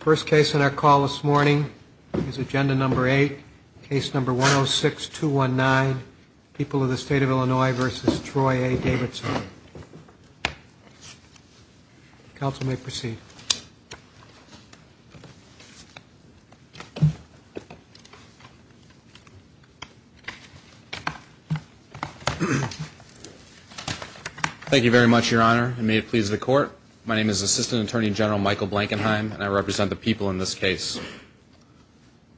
First case on our call this morning is agenda number 8, case number 106-219, People of the State of Illinois v. Troy A. Davidson. Counsel may proceed. Thank you very much, Your Honor, and may it please the Court. My name is Assistant Attorney General Michael Blankenheim, and I represent the people in this case.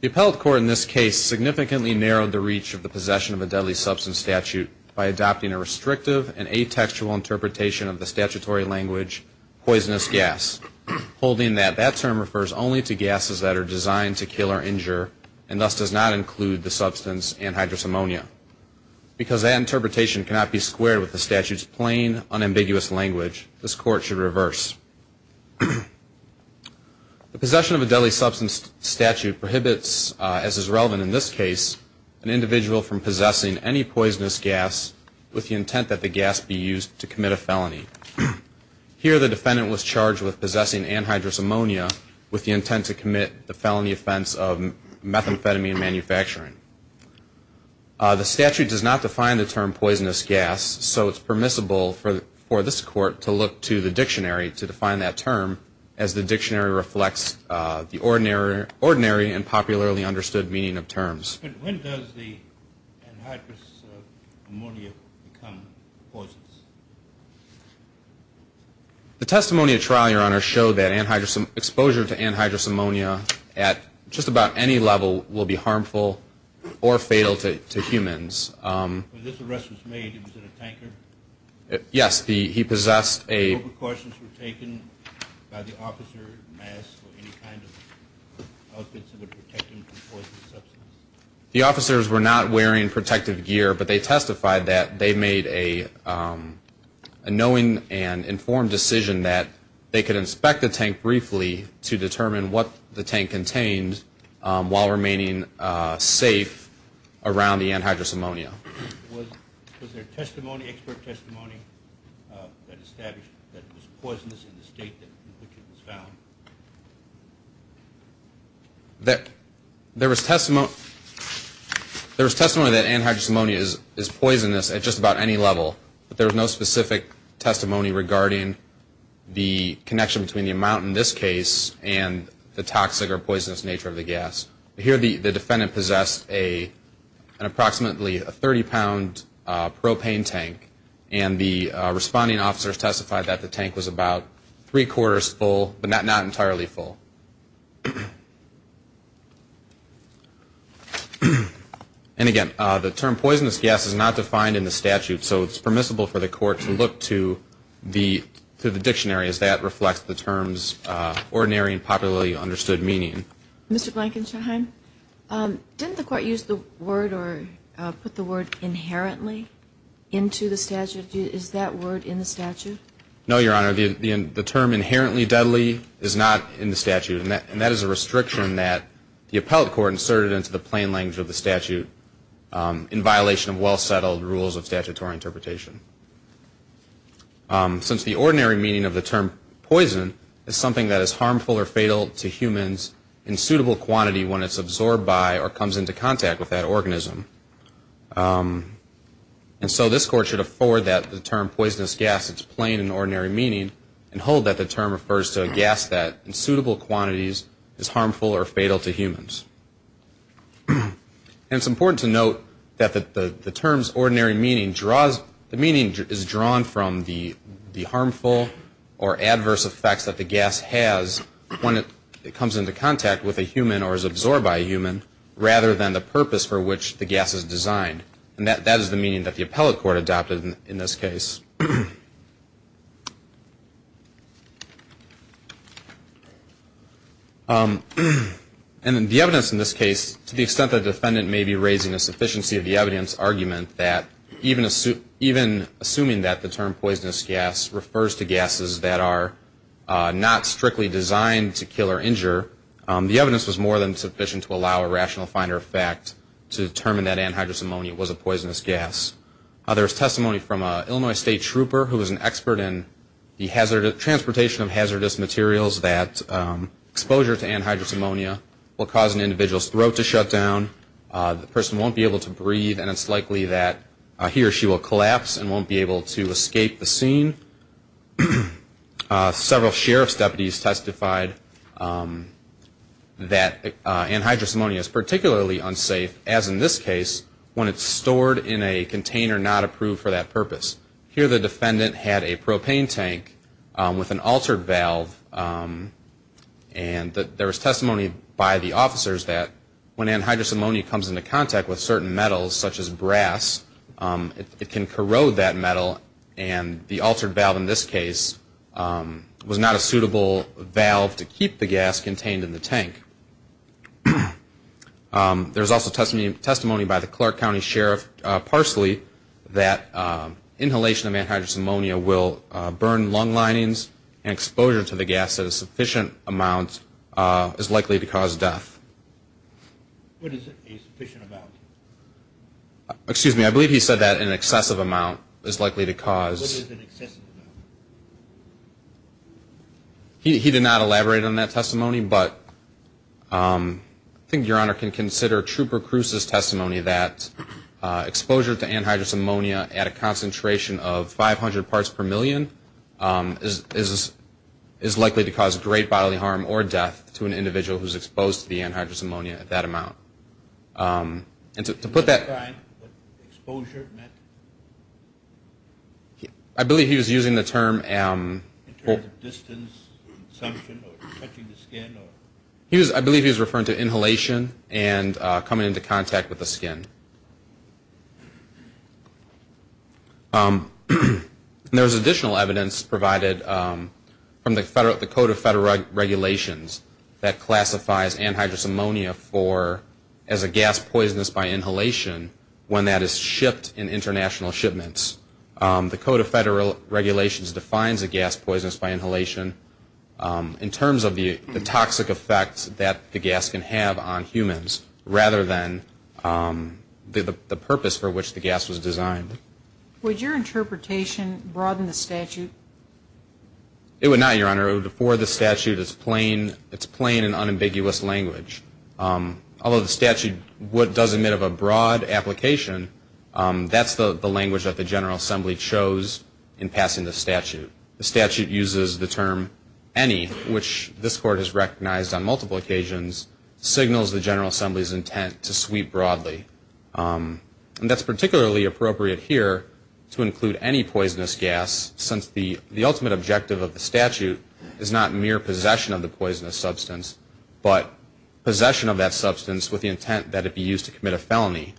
The appellate court in this case significantly narrowed the reach of the possession of a deadly substance statute by adopting a restrictive and atextual interpretation of the statutory language poisonous gas, holding that that term refers only to gases that are designed to kill or injure and thus does not include the substance anhydrous ammonia. Because that interpretation cannot be squared with the statute's plain, unambiguous language, this Court should reverse. The possession of a deadly substance statute prohibits, as is relevant in this case, an individual from possessing any poisonous gas with the intent that the gas be used to commit a felony. Here the defendant was charged with possessing anhydrous ammonia with the intent to commit the felony offense of methamphetamine manufacturing. The statute does not define the term poisonous gas, so it's permissible for this Court to look to the dictionary to define that term, as the dictionary reflects the ordinary and popularly understood meaning of terms. But when does the anhydrous ammonia become poisonous? The testimony at trial, Your Honor, showed that exposure to anhydrous ammonia at just about any level will be harmful or fatal to humans. When this arrest was made, was it a tanker? Yes, he possessed a... What precautions were taken by the officer, masks, or any kind of outfits that would protect him from poisonous substances? The officers were not wearing protective gear, but they testified that they made a knowing and informed decision that they could inspect the tank briefly to determine what the tank contained while remaining safe around the anhydrous ammonia. Was there testimony, expert testimony that established that it was poisonous in the state in which it was found? There was testimony that anhydrous ammonia is poisonous at just about any level, but there was no specific testimony regarding the connection between the amount in this case and the toxic or poisonous nature of the gas. Here the defendant possessed an approximately 30-pound propane tank, and the responding officers testified that the tank was about three-quarters full, but not entirely full. And again, the term poisonous gas is not defined in the statute, so it's permissible for the court to look to the dictionary as that reflects the term's ordinary and popularly understood meaning. Mr. Blankenshine, didn't the court use the word or put the word inherently into the statute? Is that word in the statute? No, Your Honor. The term inherently deadly is not in the statute, and that is a restriction that the appellate court inserted into the plain language of the statute in violation of well-settled rules of statutory interpretation. Since the ordinary meaning of the term poison is something that is harmful or fatal to humans in suitable quantity when it's absorbed by or comes into contact with that organism. And so this court should afford that the term poisonous gas is plain in ordinary meaning and hold that the term refers to a gas that in suitable quantities is harmful or fatal to humans. And it's important to note that the term's ordinary meaning draws the meaning is drawn from the harmful or adverse effects that the gas has when it comes into contact with a human or is absorbed by a human, rather than the purpose for which the gas is designed. And that is the meaning that the appellate court adopted in this case. And the evidence in this case, to the extent that the defendant may be raising a sufficiency of the evidence argument that even assuming that the term poisonous gas refers to gases that are not strictly designed to kill or injure, the evidence was more than sufficient to allow a rational finder of fact to determine that anhydrous ammonia was a poisonous gas. There was testimony from an Illinois State trooper who was an expert in the transportation of hazardous materials that exposure to anhydrous ammonia will cause an individual's throat to shut down, the person won't be able to breathe, and it's likely that he or she will collapse and won't be able to escape the scene. Several sheriff's deputies testified that anhydrous ammonia is particularly unsafe, as in this case, when it's stored in a container not approved for that purpose. Here the defendant had a propane tank with an altered valve, and there was testimony by the officers that when anhydrous ammonia comes into contact with certain metals, such as brass, it can corrode that metal, and the altered valve in this case was not a suitable valve to keep the gas contained in the tank. There was also testimony by the Clark County Sheriff Parsley that inhalation of the gas at a sufficient amount is likely to cause death. What is a sufficient amount? Excuse me, I believe he said that an excessive amount is likely to cause. What is an excessive amount? He did not elaborate on that testimony, but I think Your Honor can consider Trooper Cruz's testimony that exposure to anhydrous ammonia is likely to cause great bodily harm or death to an individual who is exposed to the anhydrous ammonia at that amount. And to put that. Exposure? I believe he was using the term. In terms of distance consumption or touching the skin? I believe he was referring to inhalation and coming into contact with the skin. There is additional evidence provided from the Code of Federal Regulations that classifies anhydrous ammonia as a gas poisonous by inhalation when that is shipped in international shipments. The Code of Federal Regulations defines a gas poisonous by inhalation in terms of the toxic effects that the gas can have on humans rather than the purpose for which the gas was designed. Would your interpretation broaden the statute? It would not, Your Honor. Before the statute, it's plain and unambiguous language. Although the statute does admit of a broad application, that's the language that the General Assembly chose in passing the statute. The statute uses the term any, which this Court has recognized on multiple occasions, signals the General Assembly's intent to sweep broadly. And that's particularly appropriate here to include any poisonous gas since the ultimate objective of the statute is not mere possession of the poisonous substance, but possession of that substance with the intent that it be used to commit a felony.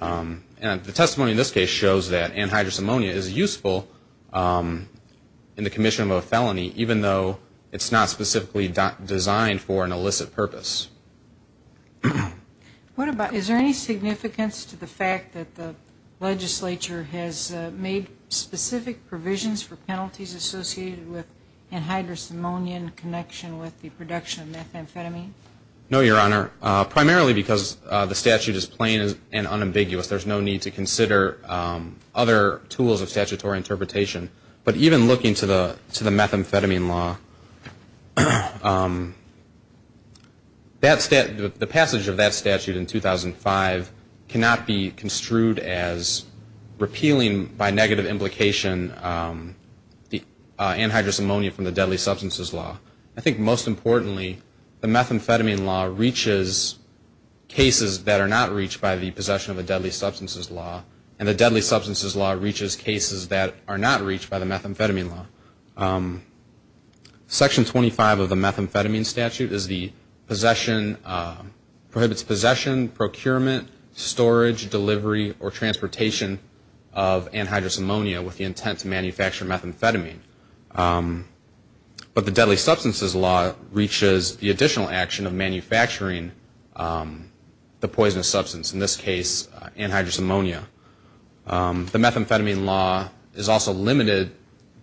And the testimony in this case shows that anhydrous ammonia is useful in the commission of a felony, even though it's not specifically designed for an illicit purpose. Is there any significance to the fact that the legislature has made specific provisions for penalties associated with anhydrous ammonia in connection with the production of methamphetamine? No, Your Honor. Primarily because the statute is plain and unambiguous. There's no need to consider other tools of statutory interpretation. But even looking to the methamphetamine law, the passage of that statute in 2005 cannot be construed as repealing by negative implication anhydrous ammonia from the deadly substances law. I think most importantly, the methamphetamine law reaches cases that are not reached by the possession of the deadly substances law, and the deadly substances law reaches cases that are not reached by the methamphetamine law. Section 25 of the methamphetamine statute prohibits possession, procurement, storage, delivery, or transportation of anhydrous ammonia with the intent to manufacture methamphetamine. But the deadly substances law reaches the additional action of manufacturing the poisonous substance, in this case anhydrous ammonia. The methamphetamine law is also limited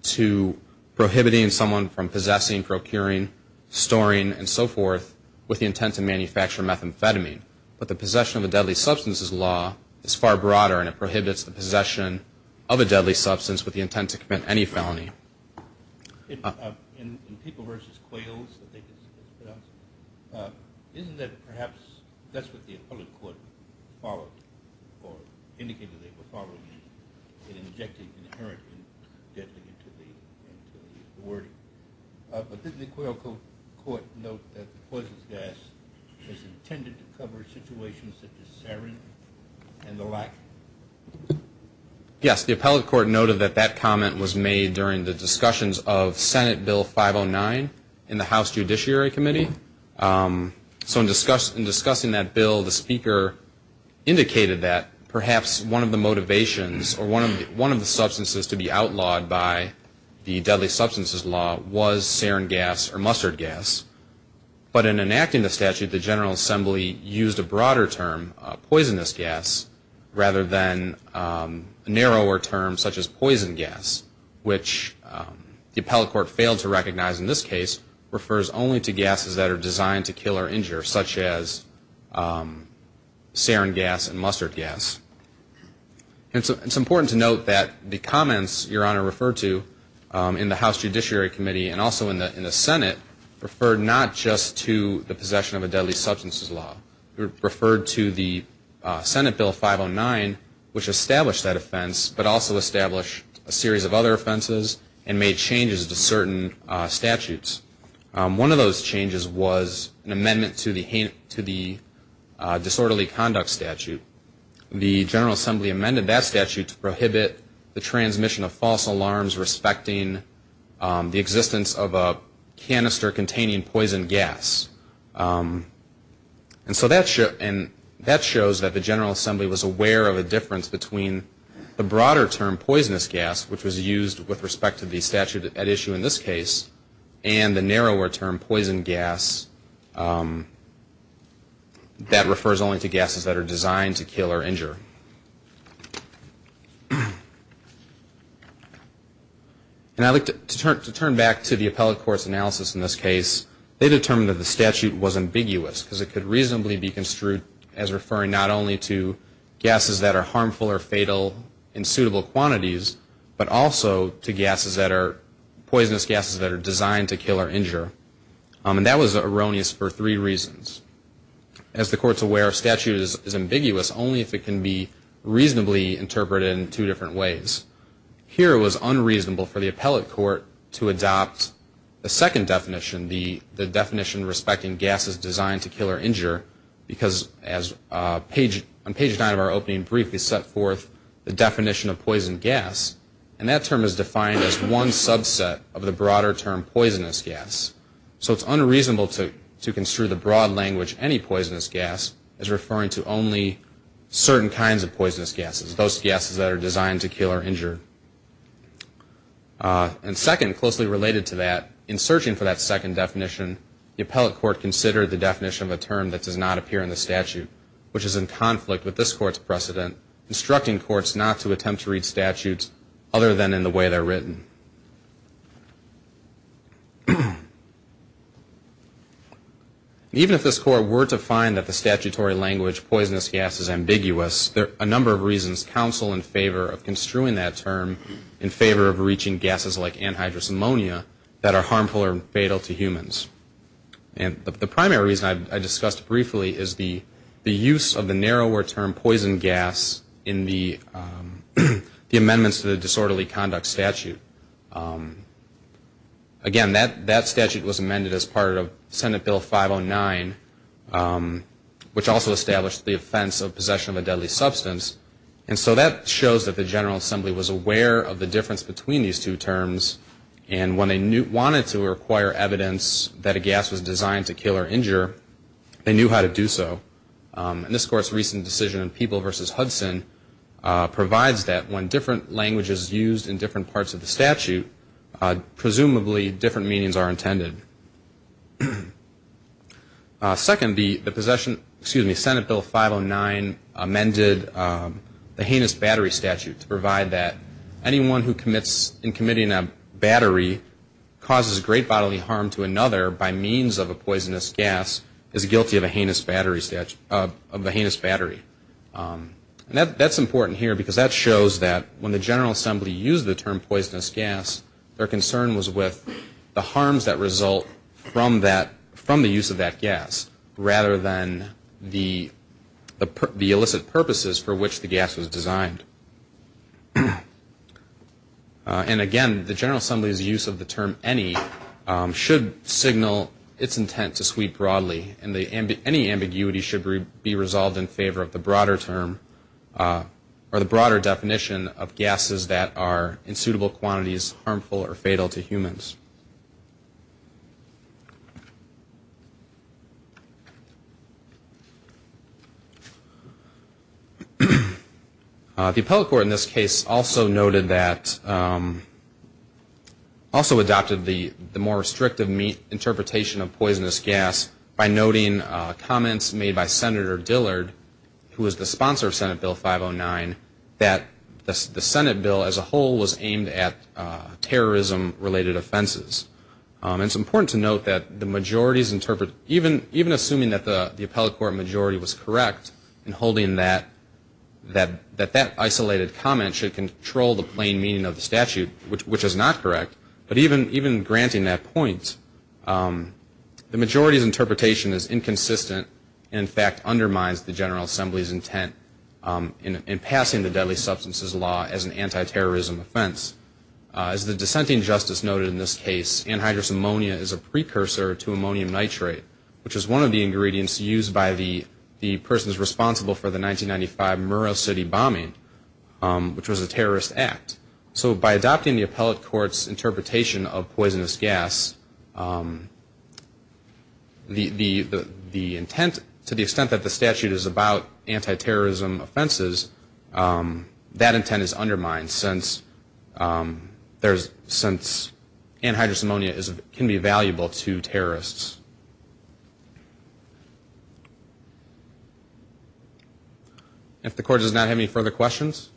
to prohibiting someone from possessing, procuring, storing, and so forth with the intent to manufacture methamphetamine. But the possession of the deadly substances law is far broader, and it prohibits the possession of a deadly substance with the intent to commit any felony. In people versus quails, isn't that perhaps that's what the appellate court followed or indicated they were following in injecting inherently deadly into the wording? But didn't the appellate court note that the poisonous gas is intended to cover situations such as sarin and the like? Yes, the appellate court noted that that comment was made during the discussions of Senate Bill 509 in the House Judiciary Committee. So in discussing that bill, the speaker indicated that perhaps one of the motivations or one of the substances to be outlawed by the deadly substances law was sarin gas or mustard gas. But in enacting the statute, the General Assembly used a broader term, poisonous gas, rather than a narrower term such as poison gas, which the appellate court failed to recognize in this case, refers only to gases that are designed to kill or injure, such as sarin gas and mustard gas. It's important to note that the comments Your Honor referred to in the House Judiciary Committee and also in the Senate referred not just to the possession of a deadly substances law. It referred to the Senate Bill 509, which established that offense, but also established a series of other offenses and made changes to certain statutes. One of those changes was an amendment to the disorderly conduct statute. The General Assembly amended that statute to prohibit the transmission of false alarms respecting the existence of a canister containing poison gas. And so that shows that the General Assembly was aware of a difference between the broader term, poisonous gas, which was used with respect to the statute at issue in this case, and the narrower term, poison gas, that refers only to gases that are designed to kill or injure. And I'd like to turn back to the appellate court's analysis in this case. They determined that the statute was ambiguous because it could reasonably be construed as referring not only to gases that are harmful or fatal in suitable quantities, but also to poisonous gases that are designed to kill or injure. And that was erroneous for three reasons. As the court's aware, a statute is ambiguous only if it can be reasonably interpreted in two different ways. Here it was unreasonable for the appellate court to adopt the second definition, because on page nine of our opening brief we set forth the definition of poison gas, and that term is defined as one subset of the broader term, poisonous gas. So it's unreasonable to construe the broad language any poisonous gas is referring to only certain kinds of poisonous gases, those gases that are designed to kill or injure. And second, closely related to that, in searching for that second definition, the appellate court considered the definition of a term that does not appear in the statute, which is in conflict with this court's precedent, instructing courts not to attempt to read statutes other than in the way they're written. Even if this court were to find that the statutory language poisonous gas is ambiguous, a number of reasons counsel in favor of construing that term in favor of reaching gases like anhydrous ammonia that are harmful or fatal to humans. And the primary reason I discussed briefly is the use of the narrower term poison gas in the amendments to the disorderly conduct statute. Again, that statute was amended as part of Senate Bill 509, which also established the offense of possession of a deadly substance, and so that shows that the General Assembly was aware of the difference between these two terms and when they wanted to require evidence that a gas was designed to kill or injure, they knew how to do so. And this court's recent decision in People v. Hudson provides that when different language is used in different parts of the statute, presumably different meanings are intended. Second, the Senate Bill 509 amended the heinous battery statute to provide that anyone who commits in committing a battery causes great bodily harm to another by means of a poisonous gas is guilty of a heinous battery statute, of a heinous battery. And that's important here because that shows that when the General Assembly used the term poisonous gas, their concern was with the harms that result from that, from the use of that gas, rather than the illicit purposes for which the gas was designed. And, again, the General Assembly's use of the term any should signal its intent to sweep broadly, and any ambiguity should be resolved in favor of the broader term or the broader definition of gases that are in suitable quantities harmful or fatal to humans. The appellate court in this case also noted that, also adopted the more restrictive interpretation of poisonous gas by noting comments made by Senator Dillard, who was the sponsor of Senate Bill 509, that the Senate Bill as a whole was aimed at terrorism-related offenses. It's important to note that the majorities interpret, even assuming that the appellate court majority was correct in holding that that isolated comment should control the plain meaning of the statute, which is not correct, but even granting that point, the majority's interpretation is inconsistent and in fact undermines the General Assembly's intent in passing the deadly substances law as an anti-terrorism offense. As the dissenting justice noted in this case, anhydrous ammonia is a precursor to ammonium nitrate, which is one of the ingredients used by the persons responsible for the 1995 Murrah City bombing, which was a terrorist act. So by adopting the appellate court's interpretation of poisonous gas, the intent, to the extent that the statute is about anti-terrorism offenses, that intent is undermined since anhydrous ammonia can be valuable to terrorists. If the court does not have any further questions,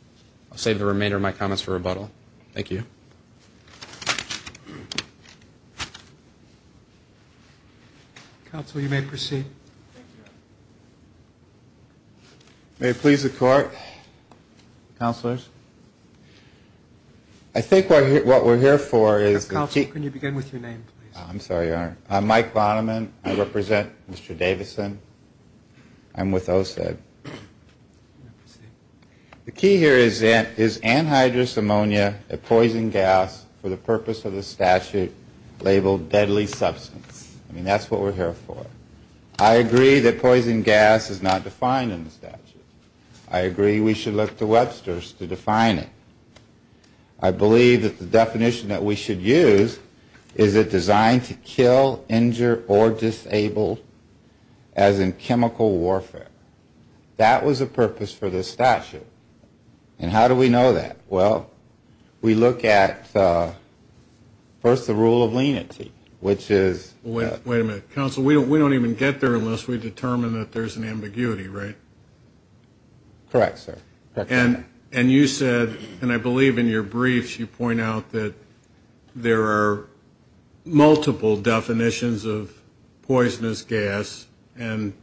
I'll save the remainder of my comments for rebuttal. Thank you. Counsel, you may proceed. May it please the court. Counselors. I think what we're here for is the key. Counsel, can you begin with your name, please? I'm sorry, Your Honor. I'm Mike Bonneman. I represent Mr. Davison. I'm with OSED. The key here is anhydrous ammonia, a poison gas, for the purpose of the statute labeled deadly substance. I mean, that's what we're here for. I agree that poison gas is not defined in the statute. I agree we should look to Webster's to define it. I believe that the definition that we should use is it designed to kill, injure, or disable, as in chemical warfare. That was the purpose for this statute. And how do we know that? Well, we look at, first, the rule of lenity, which is. Wait a minute. Counsel, we don't even get there unless we determine that there's an ambiguity, right? Correct, sir. And you said, and I believe in your briefs you point out that there are multiple definitions of poisonous gas, and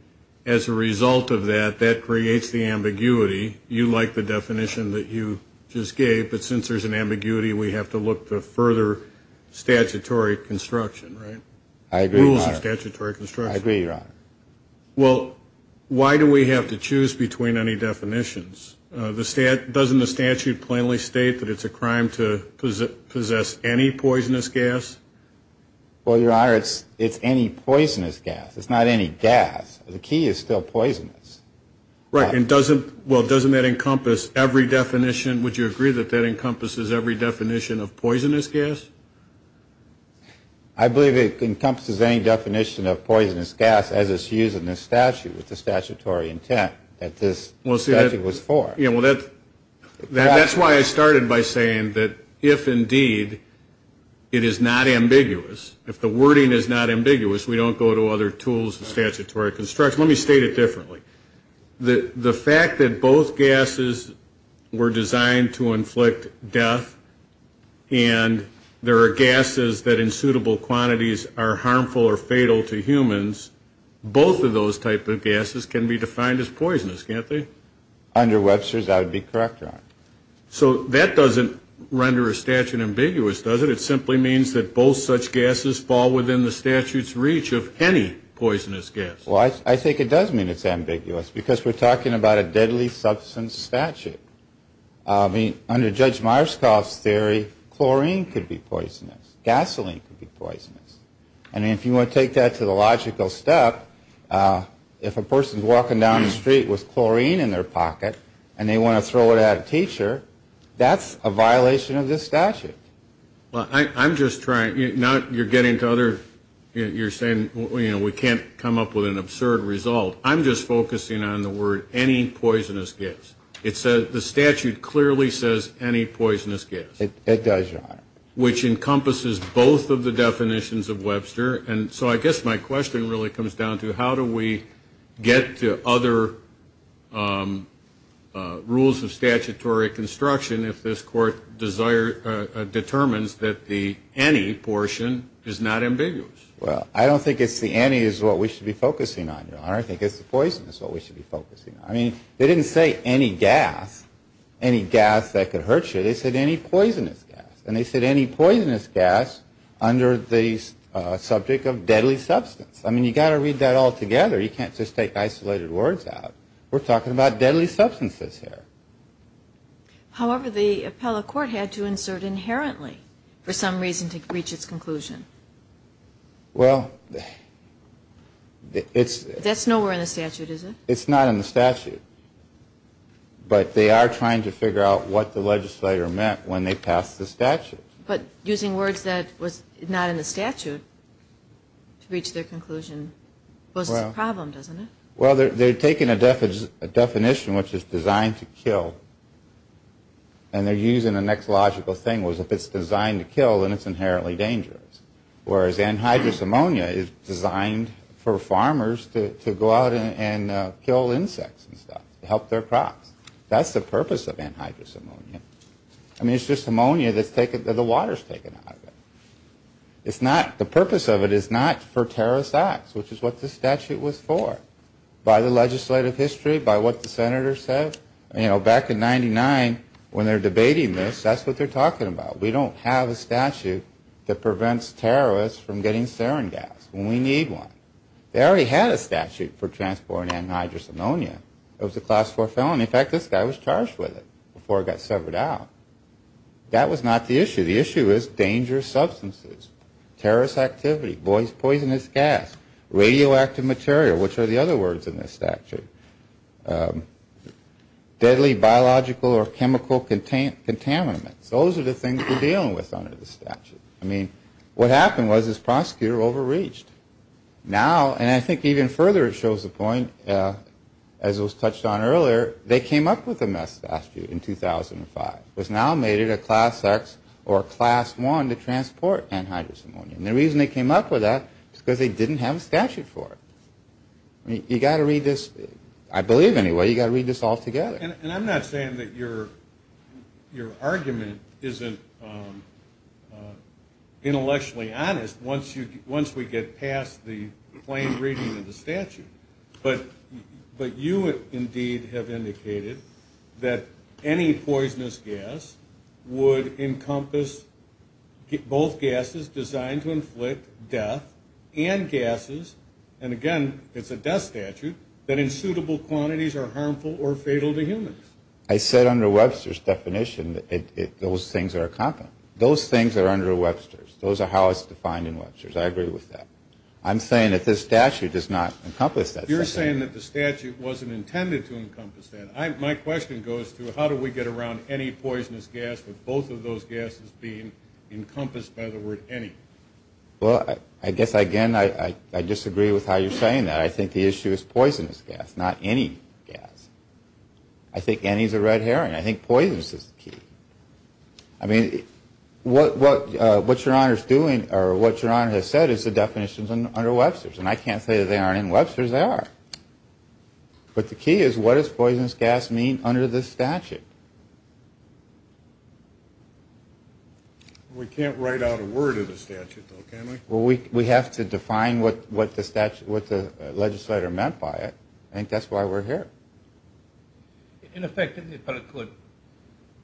as a result of that, that creates the ambiguity. You like the definition that you just gave, but since there's an ambiguity, we have to look to further statutory construction, right? I agree, Your Honor. Rules of statutory construction. I agree, Your Honor. Well, why do we have to choose between any definitions? Doesn't the statute plainly state that it's a crime to possess any poisonous gas? Well, Your Honor, it's any poisonous gas. It's not any gas. The key is still poisonous. Right, and doesn't that encompass every definition? Would you agree that that encompasses every definition of poisonous gas? I believe it encompasses any definition of poisonous gas, as it's used in the statute with the statutory intent that this statute was for. Yeah, well, that's why I started by saying that if indeed it is not ambiguous, if the wording is not ambiguous, we don't go to other tools of statutory construction. Let me state it differently. The fact that both gases were designed to inflict death and there are gases that in suitable quantities are harmful or fatal to humans, both of those type of gases can be defined as poisonous, can't they? Under Webster's, I would be correct, Your Honor. So that doesn't render a statute ambiguous, does it? It simply means that both such gases fall within the statute's reach of any poisonous gas. Well, I think it does mean it's ambiguous because we're talking about a deadly substance statute. I mean, under Judge Myerscough's theory, chlorine could be poisonous. Gasoline could be poisonous. And if you want to take that to the logical step, if a person's walking down the street with chlorine in their pocket and they want to throw it at a teacher, that's a violation of this statute. Well, I'm just trying. Now you're getting to other. You're saying we can't come up with an absurd result. I'm just focusing on the word any poisonous gas. The statute clearly says any poisonous gas. It does, Your Honor. Which encompasses both of the definitions of Webster. And so I guess my question really comes down to how do we get to other rules of statutory construction if this Court determines that the any portion is not ambiguous? Well, I don't think it's the any is what we should be focusing on, Your Honor. I think it's the poisonous is what we should be focusing on. I mean, they didn't say any gas, any gas that could hurt you. They said any poisonous gas. And they said any poisonous gas under the subject of deadly substance. I mean, you've got to read that all together. You can't just take isolated words out. We're talking about deadly substances here. However, the appellate court had to insert inherently for some reason to reach its conclusion. Well, it's... That's nowhere in the statute, is it? It's not in the statute. But they are trying to figure out what the legislator meant when they passed the statute. But using words that was not in the statute to reach their conclusion poses a problem, doesn't it? Well, they're taking a definition which is designed to kill. And they're using the next logical thing was if it's designed to kill, then it's inherently dangerous. Whereas anhydrous ammonia is designed for farmers to go out and kill insects and stuff to help their crops. That's the purpose of anhydrous ammonia. I mean, it's just ammonia that the water's taken out of it. It's not... The purpose of it is not for terrorist acts, which is what this statute was for. By the legislative history, by what the senators said. You know, back in 99, when they're debating this, that's what they're talking about. We don't have a statute that prevents terrorists from getting sarin gas when we need one. They already had a statute for transporting anhydrous ammonia. It was a class 4 felony. In fact, this guy was charged with it before it got severed out. That was not the issue. The issue is dangerous substances, terrorist activity, poisonous gas, radioactive material, which are the other words in this statute, deadly biological or chemical contaminants. Those are the things we're dealing with under the statute. I mean, what happened was this prosecutor overreached. Now, and I think even further it shows the point, as was touched on earlier, they came up with a mess statute in 2005. It was now made it a class X or a class 1 to transport anhydrous ammonia. And the reason they came up with that is because they didn't have a statute for it. You've got to read this, I believe anyway, you've got to read this all together. And I'm not saying that your argument isn't intellectually honest once we get past the plain reading of the statute. But you indeed have indicated that any poisonous gas would encompass both gases designed to inflict death and gases, and again, it's a death statute, that in suitable quantities are harmful or fatal to humans. I said under Webster's definition that those things are common. Those things are under Webster's. Those are how it's defined in Webster's. I agree with that. I'm saying that this statute does not encompass that. You're saying that the statute wasn't intended to encompass that. My question goes to how do we get around any poisonous gas with both of those gases being encompassed by the word any? Well, I guess, again, I disagree with how you're saying that. I think the issue is poisonous gas, not any gas. I think any is a red herring. I think poisonous is the key. I mean, what your Honor is doing or what your Honor has said is the definitions under Webster's, and I can't say that they aren't in Webster's. They are. But the key is what does poisonous gas mean under this statute? We can't write out a word of the statute, though, can we? Well, we have to define what the legislature meant by it. I think that's why we're here. In effect, didn't the appellate court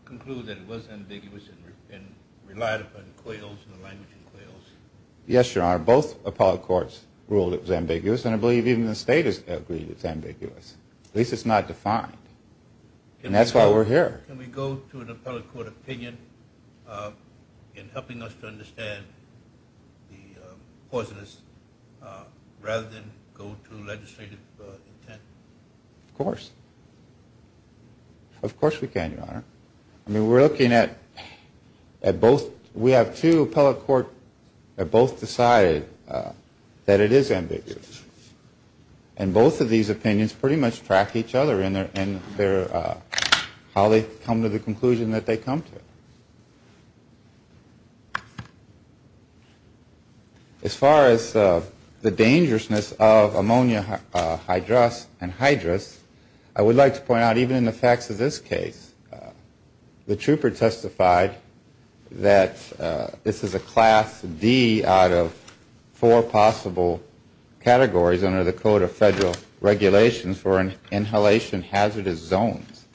conclude that it was ambiguous and relied upon quails and the language of quails? Yes, Your Honor. Both appellate courts ruled it was ambiguous, and I believe even the state has agreed it's ambiguous. At least it's not defined. And that's why we're here. Can we go to an appellate court opinion in helping us to understand the poisonous rather than go to legislative intent? Of course. Of course we can, Your Honor. I mean, we're looking at both. We have two appellate courts that both decided that it is ambiguous. And both of these opinions pretty much track each other in how they come to the conclusion that they come to. As far as the dangerousness of ammonia hydrous and hydrous, I would like to point out even in the facts of this case, the trooper testified that this is a Class D out of four possible categories under the Code of Federal Regulations for inhalation hazardous zones.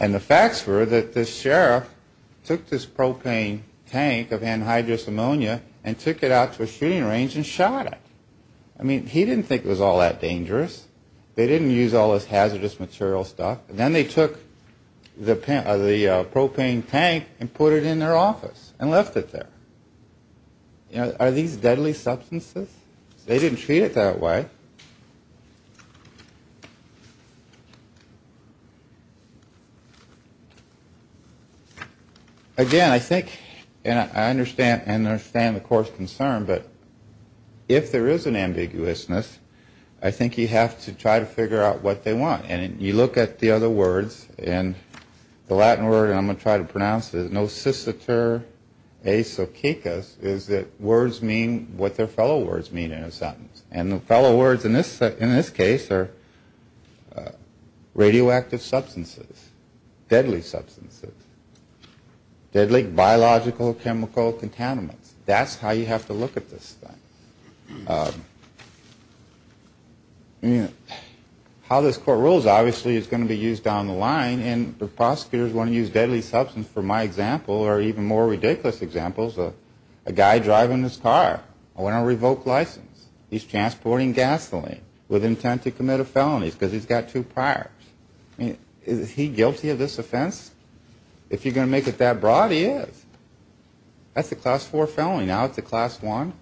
And the facts were that the sheriff took this propane tank of anhydrous ammonia and took it out to a shooting range and shot it. I mean, he didn't think it was all that dangerous. They didn't use all this hazardous material stuff. And then they took the propane tank and put it in their office and left it there. Are these deadly substances? They didn't treat it that way. Again, I think and I understand the court's concern, but if there is an ambiguousness, I think you have to try to figure out what they want. And you look at the other words and the Latin word, and I'm going to try to pronounce it, is that words mean what their fellow words mean in a sentence. And the fellow words in this case are radioactive substances, deadly substances, deadly biological chemical contaminants. That's how you have to look at this thing. How this court rules, obviously, is going to be used down the line. And the prosecutors want to use deadly substances. For my example, or even more ridiculous examples, a guy driving his car. I want a revoked license. He's transporting gasoline with intent to commit a felony because he's got two priors. I mean, is he guilty of this offense? If you're going to make it that broad, he is. That's a class four felony. Now it's a class one.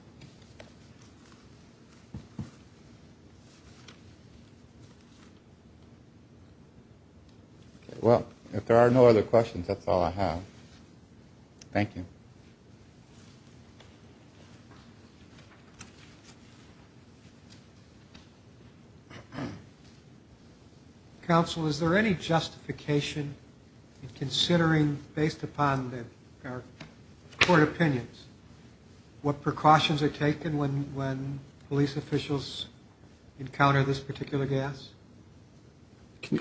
Well, if there are no other questions, that's all I have. Thank you. Counsel, is there any justification in considering, based upon our court opinions, what precautions are taken when police officials encounter this particular gas?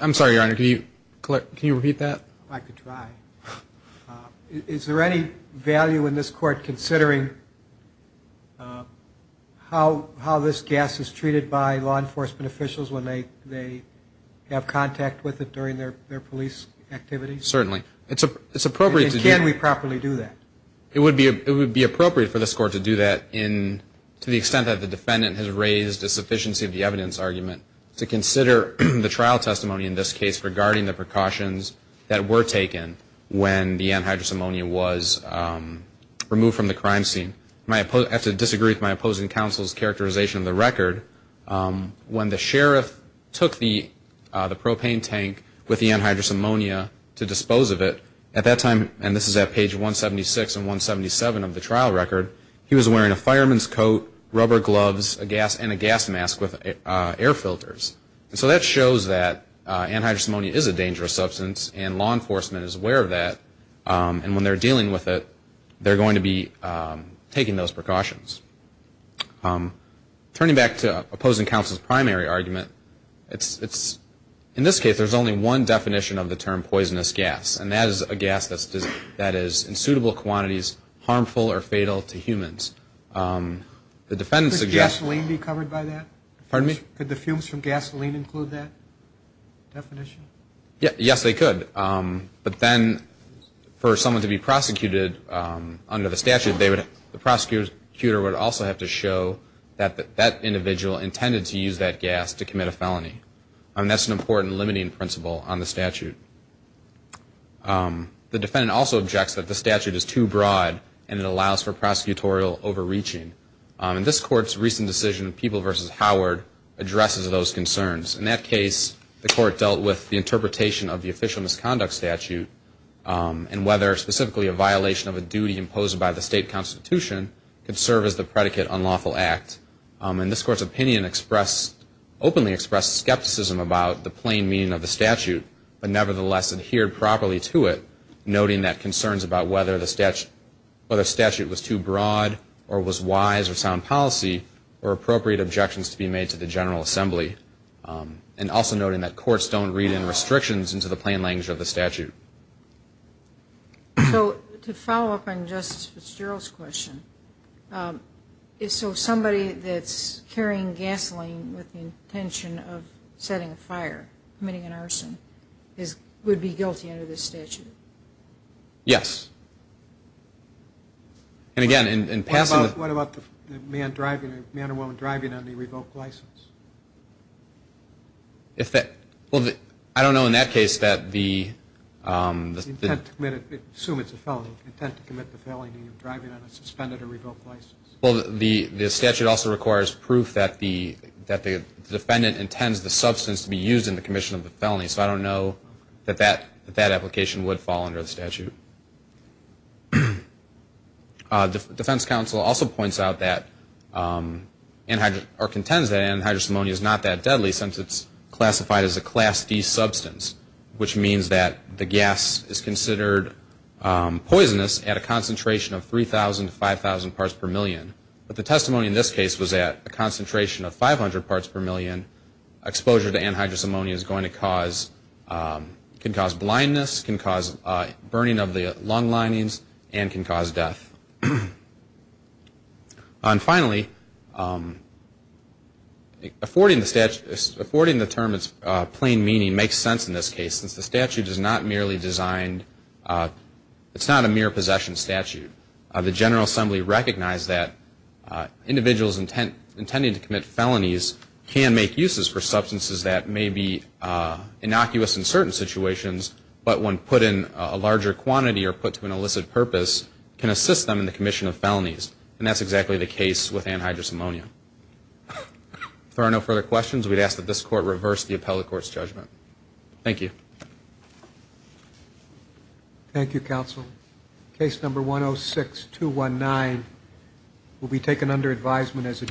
I'm sorry, Your Honor. Can you repeat that? I could try. Is there any value in this court considering how this gas is treated by law enforcement officials when they have contact with it during their police activities? Certainly. It's appropriate to do that. And can we properly do that? It would be appropriate for this court to do that to the extent that the defendant has raised a sufficiency of the evidence argument to consider the trial testimony in this case regarding the precautions that were taken when the anhydrous ammonia was removed from the crime scene. I have to disagree with my opposing counsel's characterization of the record. When the sheriff took the propane tank with the anhydrous ammonia to dispose of it, at that time, and this is at page 176 and 177 of the trial record, he was wearing a fireman's coat, rubber gloves, and a gas mask with air filters. And so that shows that anhydrous ammonia is a dangerous substance, and law enforcement is aware of that. And when they're dealing with it, they're going to be taking those precautions. Turning back to opposing counsel's primary argument, in this case, there's only one definition of the term poisonous gas, and that is a gas that is in suitable quantities harmful or fatal to humans. Could gasoline be covered by that? Pardon me? Could the fumes from gasoline include that definition? Yes, they could. But then for someone to be prosecuted under the statute, the prosecutor would also have to show that that individual intended to use that gas to commit a felony. And that's an important limiting principle on the statute. The defendant also objects that the statute is too broad, and it allows for prosecutorial overreaching. In this court's recent decision, People v. Howard, addresses those concerns. In that case, the court dealt with the interpretation of the official misconduct statute and whether specifically a violation of a duty imposed by the state constitution could serve as the predicate unlawful act. And this court's opinion openly expressed skepticism about the plain meaning of the statute, but nevertheless adhered properly to it, noting that concerns about whether the statute was too broad or was wise or sound policy were appropriate objections to be made to the General Assembly, and also noting that courts don't read in restrictions into the plain language of the statute. So to follow up on Justice Fitzgerald's question, is so somebody that's carrying gasoline with the intention of setting a fire, committing an arson, would be guilty under this statute? Yes. And again, in passing the... What about the man or woman driving on the revoked license? Well, I don't know in that case that the... Intent to commit, assume it's a felony, intent to commit the felony of driving on a suspended or revoked license. Well, the statute also requires proof that the defendant intends the substance to be used in the commission of the felony, so I don't know that that application would fall under the statute. Defense counsel also points out that, or contends that anhydrous ammonia is not that deadly since it's classified as a Class D substance, which means that the gas is considered poisonous at a concentration of 3,000 to 5,000 parts per million, but the testimony in this case was at a concentration of 500 parts per million. Exposure to anhydrous ammonia is going to cause, can cause blindness, can cause burning of the lung linings, and can cause death. And finally, affording the term its plain meaning makes sense in this case, since the statute is not merely designed, it's not a mere possession statute. The General Assembly recognized that individuals intending to commit felonies can make uses for substances that may be innocuous in certain situations, but when put in a larger quantity or put to an illicit purpose, can assist them in the commission of felonies. And that's exactly the case with anhydrous ammonia. If there are no further questions, we'd ask that this Court reverse the appellate court's judgment. Thank you. Thank you, counsel. Case number 106-219 will be taken under advisement as adjourned.